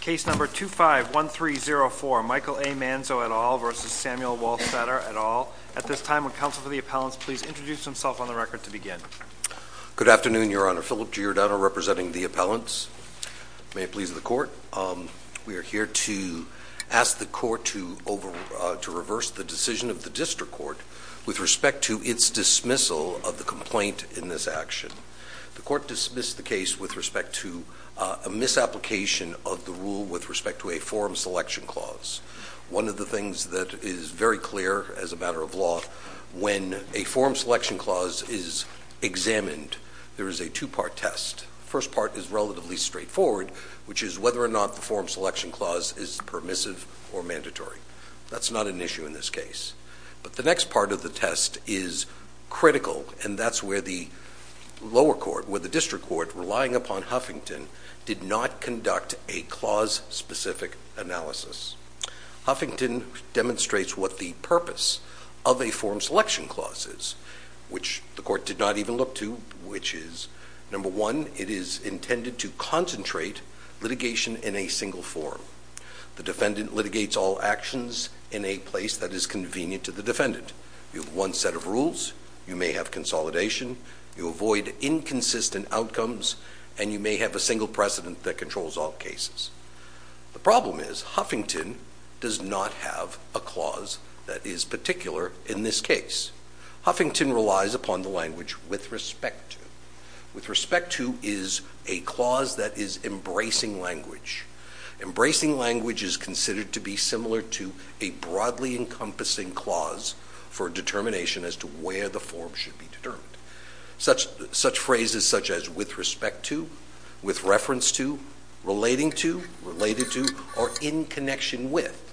Case number 251304, Michael A. Manzo et al. v. Samuel Wohlstadter et al. At this time, would counsel for the appellants please introduce themselves on the record to begin. Good afternoon, your honor. Philip Giordano representing the appellants. May it please the court. We are here to ask the court to reverse the decision of the district court with respect to its dismissal of the complaint in this action. The court dismissed the case with respect to a misapplication of the rule with respect to a forum selection clause. One of the things that is very clear as a matter of law, when a forum selection clause is examined, there is a two-part test. The first part is relatively straightforward, which is whether or not the forum selection clause is permissive or mandatory. That's not an issue in this case. But the next part of the test is critical, and that's where the lower court, where the district court, relying upon Huffington, did not conduct a clause-specific analysis. Huffington demonstrates what the purpose of a forum selection clause is, which the court did not even look to, which is, number one, it is intended to concentrate litigation in a single forum. The defendant litigates all actions in a place that is convenient to the defendant. You have one set of rules, you may have consolidation, you avoid inconsistent outcomes, and you may have a single precedent that controls all cases. The problem is, Huffington does not have a clause that is particular in this case. Huffington relies upon the language with respect to. With respect to is a clause that is embracing language. Embracing language is considered to be similar to a broadly encompassing clause for determination as to where the forum should be determined. Such phrases such as with respect to, with reference to, relating to, related to, or in connection with.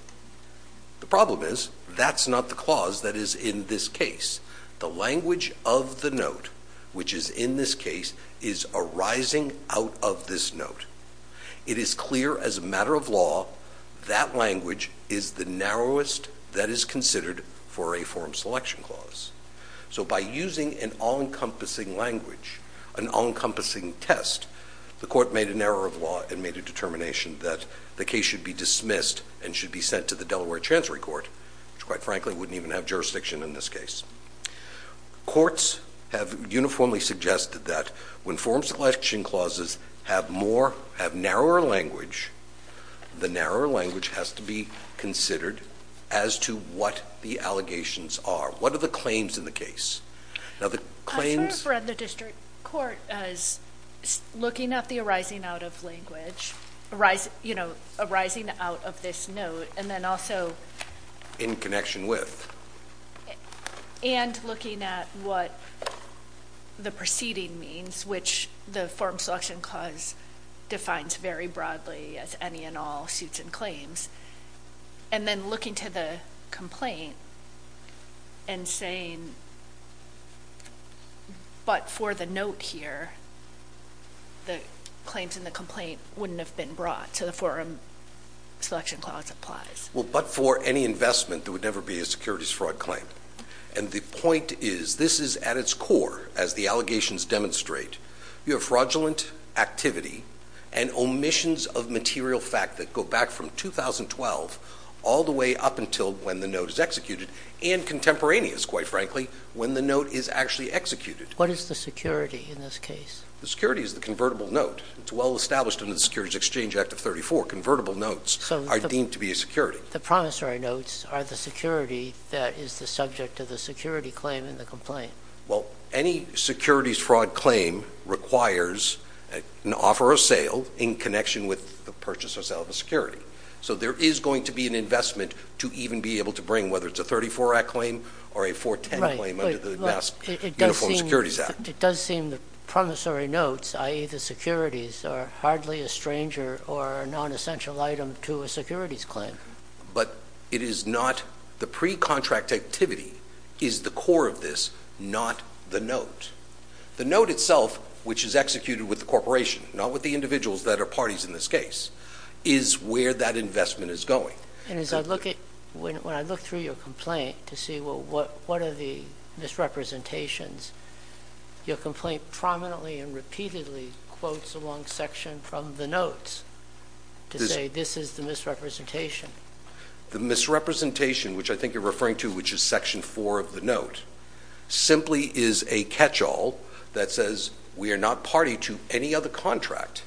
The problem is, that's not the clause that is in this case. The language of the note, which is in this case, is arising out of this note. It is clear as a matter of law, that language is the narrowest that is considered for a forum selection clause. So by using an all-encompassing language, an all-encompassing test, the court made an error of law and made a determination that the case should be dismissed and should be sent to the Delaware Chancery Court, which quite frankly wouldn't even have jurisdiction in this case. Courts have uniformly suggested that when forum selection clauses have more, have narrower language, the narrower language has to be considered as to what the allegations are. What are the claims in the case? Now the claims- I sort of read the district court as looking at the arising out of language. Arising, you know, arising out of this note and then also- In connection with? And looking at what the proceeding means, which the forum selection clause defines very broadly as any and all suits and claims. And then looking to the complaint and saying, but for the note here, the claims in the complaint wouldn't have been brought to the forum selection clause applies. Well, but for any investment, there would never be a securities fraud claim. And the point is, this is at its core, as the allegations demonstrate, you have fraudulent activity and omissions of material fact that go back from 2012 all the way up until when the note is executed and contemporaneous, quite frankly, when the note is actually executed. What is the security in this case? The security is the convertible note. It's well established in the Securities Exchange Act of 34. Convertible notes are deemed to be a security. The promissory notes are the security that is the subject of the security claim in the complaint. Well, any securities fraud claim requires an offer or sale in connection with the purchase or sale of a security. So there is going to be an investment to even be able to bring, whether it's a 34 Act claim or a 410 claim under the Mass Uniform Securities Act. It does seem the promissory notes, i.e. the securities, are hardly a stranger or a nonessential item to a securities claim. But it is not the pre-contract activity is the core of this, not the note. The note itself, which is executed with the corporation, not with the individuals that are parties in this case, is where that investment is going. And when I look through your complaint to see what are the misrepresentations, your complaint prominently and repeatedly quotes along section from the notes to say this is the misrepresentation. The misrepresentation, which I think you're referring to, which is section 4 of the note, simply is a catch-all that says we are not party to any other contract.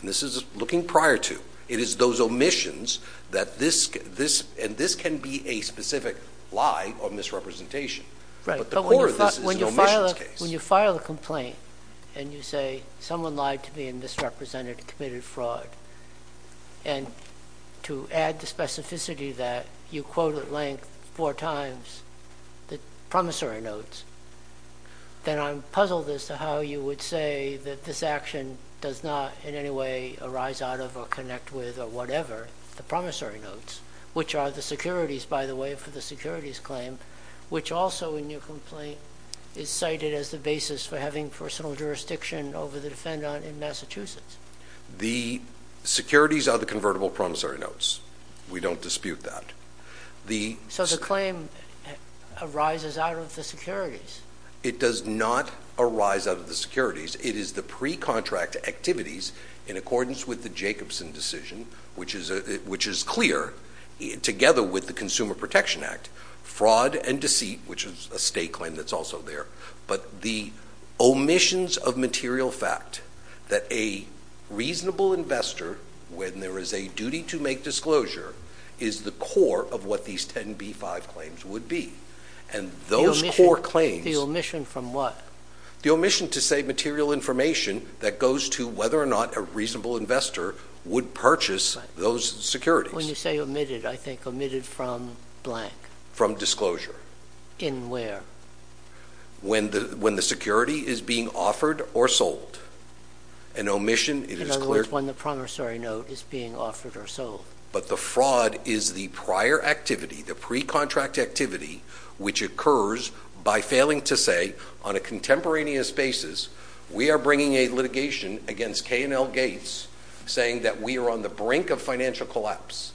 And this is looking prior to. It is those omissions that this can be a specific lie or misrepresentation. But the core of this is an omissions case. When you file a complaint and you say someone lied to me and misrepresented and committed fraud, and to add the specificity that you quote at length four times the promissory notes, then I'm puzzled as to how you would say that this action does not in any way arise out of or connect with or whatever the promissory notes, which are the securities, by the way, for the securities claim, which also in your complaint is cited as the basis for having personal jurisdiction over the defendant in Massachusetts. The securities are the convertible promissory notes. We don't dispute that. So the claim arises out of the securities. It does not arise out of the securities. It is the pre-contract activities in accordance with the Jacobson decision, which is clear together with the Consumer Protection Act. Fraud and deceit, which is a state claim that's also there, but the omissions of material fact that a reasonable investor, when there is a duty to make disclosure, is the core of what these 10b-5 claims would be. And those core claims— The omission from what? The omission to say material information that goes to whether or not a reasonable investor would purchase those securities. When you say omitted, I think omitted from blank. From disclosure. In where? When the security is being offered or sold. An omission, it is clear— The promissory note is being offered or sold. But the fraud is the prior activity, the pre-contract activity, which occurs by failing to say on a contemporaneous basis, we are bringing a litigation against K&L Gates saying that we are on the brink of financial collapse.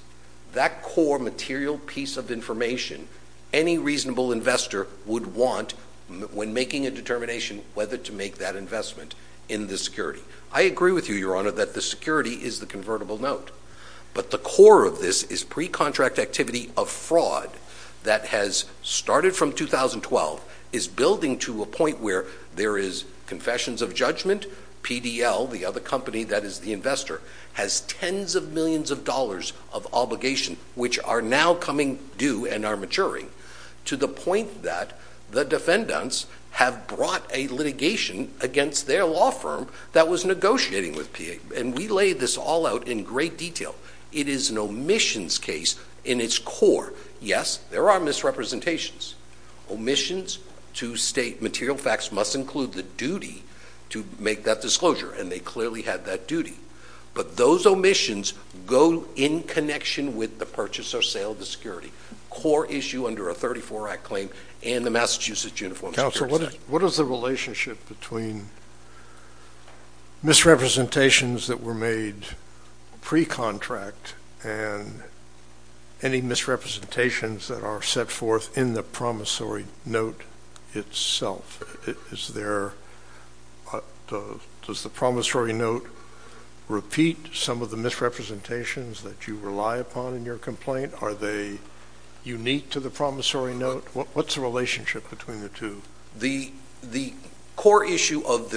That core material piece of information, any reasonable investor would want when making a determination whether to make that investment in the security. I agree with you, Your Honor, that the security is the convertible note. But the core of this is pre-contract activity of fraud that has started from 2012, is building to a point where there is confessions of judgment. PDL, the other company that is the investor, has tens of millions of dollars of obligation, which are now coming due and are maturing, to the point that the defendants have brought a litigation against their law firm that was negotiating with PA. And we laid this all out in great detail. It is an omissions case in its core. Yes, there are misrepresentations. Omissions to state material facts must include the duty to make that disclosure, and they clearly had that duty. But those omissions go in connection with the purchase or sale of the security. Core issue under a 34-Act claim in the Massachusetts Uniform Security System. Counsel, what is the relationship between misrepresentations that were made pre-contract and any misrepresentations that are set forth in the promissory note itself? Does the promissory note repeat some of the misrepresentations that you rely upon in your complaint? Are they unique to the promissory note? What's the relationship between the two? The core issue of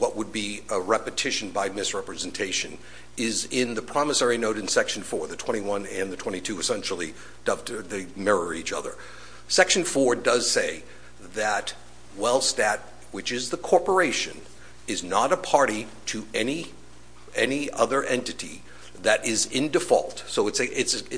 what would be a repetition by misrepresentation is in the promissory note in Section 4. The 21 and the 22 essentially mirror each other. Section 4 does say that Wellstat, which is the corporation, is not a party to any other entity that is in default. So it's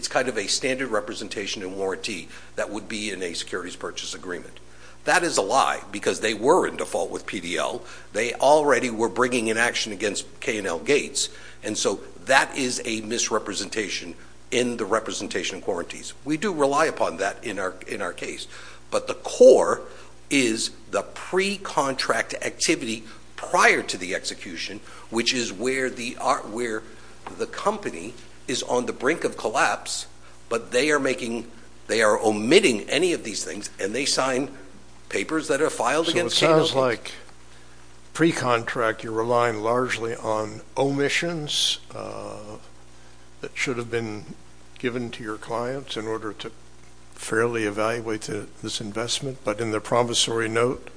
kind of a standard representation and warranty that would be in a securities purchase agreement. That is a lie because they were in default with PDL. They already were bringing an action against K&L Gates, and so that is a misrepresentation in the representation and warranties. We do rely upon that in our case. But the core is the pre-contract activity prior to the execution, which is where the company is on the brink of collapse, but they are omitting any of these things, and they sign papers that are filed against K&L Gates. So it sounds like pre-contract you're relying largely on omissions that should have been given to your clients in order to fairly evaluate this investment, but in the promissory note,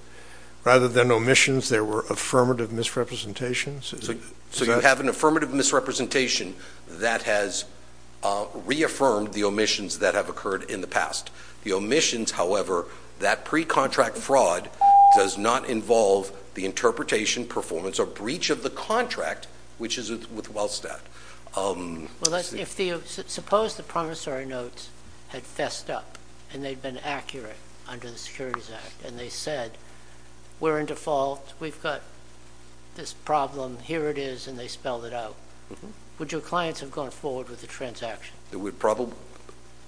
rather than omissions, there were affirmative misrepresentations? So you have an affirmative misrepresentation that has reaffirmed the omissions that have occurred in the past. The omissions, however, that pre-contract fraud does not involve the interpretation, performance, or breach of the contract, which is with Wellstat. Well, suppose the promissory notes had fessed up, and they'd been accurate under the Securities Act, and they said we're in default, we've got this problem, here it is, and they spelled it out. Would your clients have gone forward with the transaction?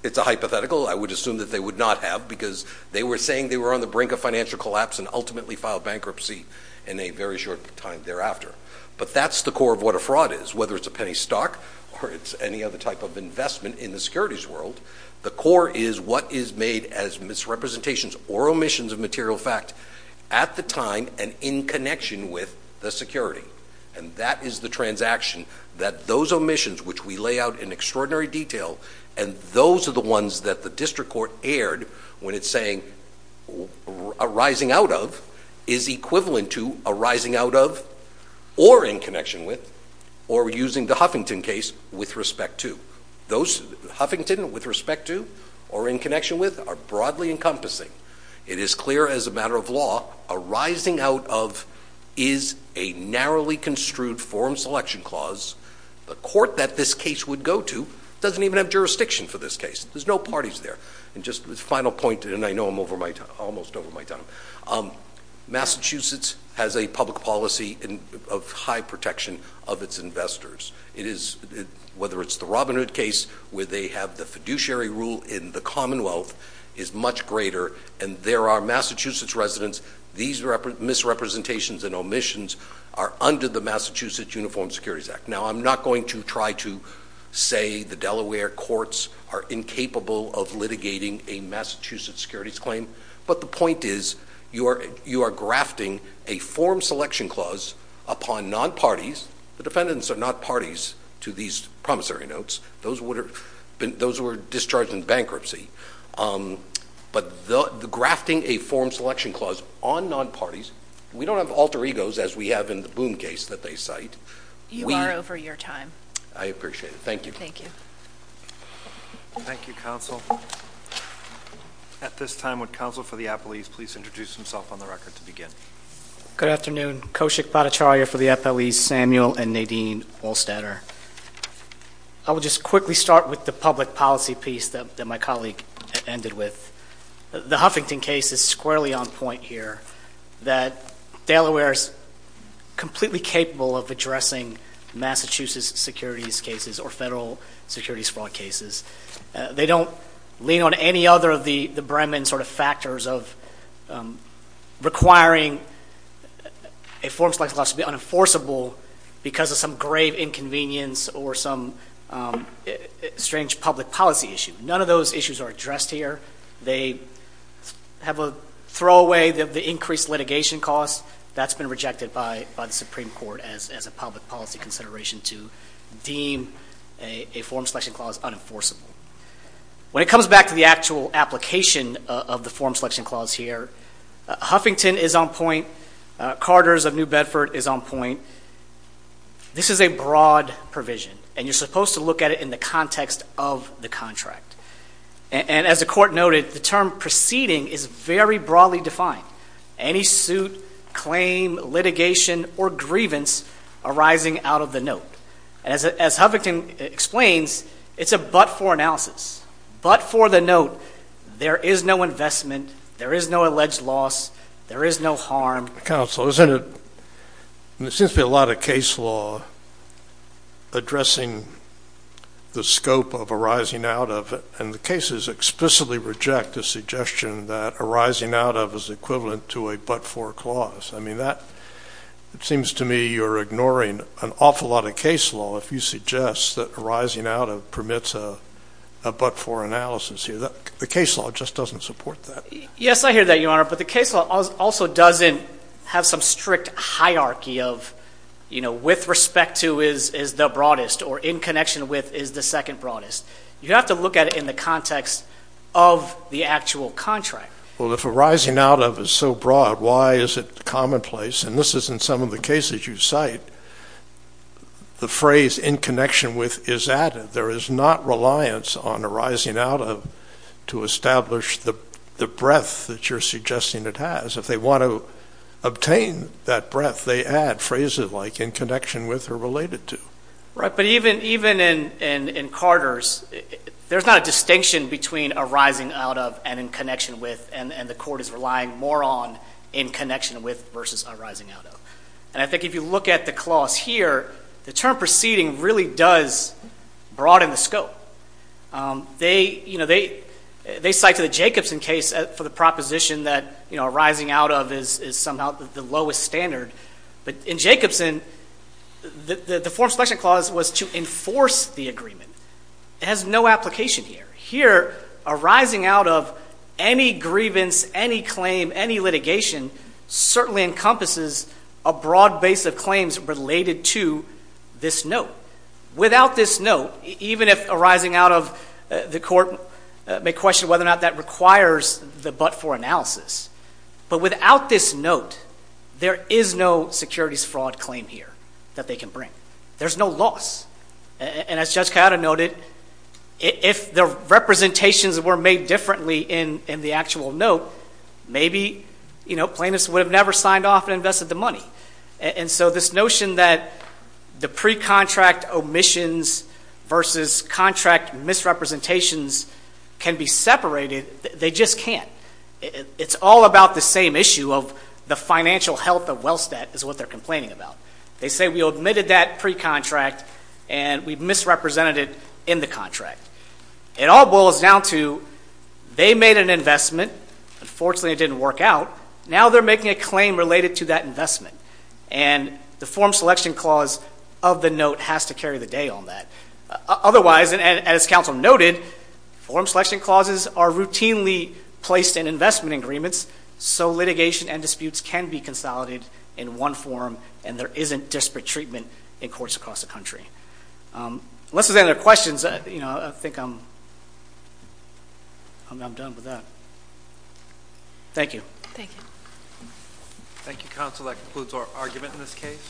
It's a hypothetical. I would assume that they would not have because they were saying they were on the brink of financial collapse and ultimately filed bankruptcy in a very short time thereafter. But that's the core of what a fraud is. Whether it's a penny stock or it's any other type of investment in the securities world, the core is what is made as misrepresentations or omissions of material fact at the time and in connection with the security. And that is the transaction that those omissions, which we lay out in extraordinary detail, and those are the ones that the district court aired when it's saying arising out of is equivalent to arising out of or in connection with or using the Huffington case with respect to. Those Huffington with respect to or in connection with are broadly encompassing. It is clear as a matter of law arising out of is a narrowly construed form selection clause. The court that this case would go to doesn't even have jurisdiction for this case. There's no parties there. And just the final point, and I know I'm almost over my time. Massachusetts has a public policy of high protection of its investors. Whether it's the Robin Hood case where they have the fiduciary rule in the Commonwealth is much greater, and there are Massachusetts residents. These misrepresentations and omissions are under the Massachusetts Uniform Securities Act. Now, I'm not going to try to say the Delaware courts are incapable of litigating a Massachusetts securities claim, but the point is you are grafting a form selection clause upon non-parties. The defendants are not parties to these promissory notes. Those were discharged in bankruptcy. But the grafting a form selection clause on non-parties, we don't have alter egos, as we have in the Boone case that they cite. You are over your time. I appreciate it. Thank you. Thank you, counsel. At this time, would counsel for the appellees please introduce himself on the record to begin? Good afternoon. Kaushik Bhattacharya for the appellees, Samuel and Nadine Wollstetter. I will just quickly start with the public policy piece that my colleague ended with. The Huffington case is squarely on point here that Delaware is completely capable of addressing Massachusetts securities cases or federal securities fraud cases. They don't lean on any other of the Bremen sort of factors of requiring a form selection clause to be unenforceable because of some grave inconvenience or some strange public policy issue. None of those issues are addressed here. They have a throwaway of the increased litigation cost. That's been rejected by the Supreme Court as a public policy consideration to deem a form selection clause unenforceable. When it comes back to the actual application of the form selection clause here, Huffington is on point. Carters of New Bedford is on point. This is a broad provision, and you're supposed to look at it in the context of the contract. And as the court noted, the term proceeding is very broadly defined. Any suit, claim, litigation, or grievance arising out of the note. As Huffington explains, it's a but-for analysis. But for the note, there is no investment, there is no alleged loss, there is no harm. Counsel, isn't it, there seems to be a lot of case law addressing the scope of arising out of it, and the cases explicitly reject the suggestion that arising out of is equivalent to a but-for clause. I mean, that seems to me you're ignoring an awful lot of case law if you suggest that arising out of permits a but-for analysis here. The case law just doesn't support that. Yes, I hear that, Your Honor. But the case law also doesn't have some strict hierarchy of, you know, with respect to is the broadest or in connection with is the second broadest. You have to look at it in the context of the actual contract. Well, if arising out of is so broad, why is it commonplace? And this is in some of the cases you cite, the phrase in connection with is added. There is not reliance on arising out of to establish the breadth that you're suggesting it has. If they want to obtain that breadth, they add phrases like in connection with or related to. Right, but even in Carter's, there's not a distinction between arising out of and in connection with, and the court is relying more on in connection with versus arising out of. And I think if you look at the clause here, the term proceeding really does broaden the scope. They cite to the Jacobson case for the proposition that, you know, arising out of is somehow the lowest standard. But in Jacobson, the form selection clause was to enforce the agreement. It has no application here. Here, arising out of any grievance, any claim, any litigation, certainly encompasses a broad base of claims related to this note. Without this note, even if arising out of, the court may question whether or not that requires the but-for analysis. But without this note, there is no securities fraud claim here that they can bring. There's no loss. And as Judge Coyota noted, if the representations were made differently in the actual note, maybe, you know, plaintiffs would have never signed off and invested the money. And so this notion that the pre-contract omissions versus contract misrepresentations can be separated, they just can't. It's all about the same issue of the financial health of Wellstat is what they're complaining about. They say we admitted that pre-contract and we misrepresented it in the contract. It all boils down to they made an investment. Unfortunately, it didn't work out. Now they're making a claim related to that investment. And the form selection clause of the note has to carry the day on that. Otherwise, and as counsel noted, form selection clauses are routinely placed in investment agreements, so litigation and disputes can be consolidated in one form and there isn't disparate treatment in courts across the country. Unless there's any other questions, you know, I think I'm done with that. Thank you. Thank you. Thank you, counsel. That concludes our argument in this case.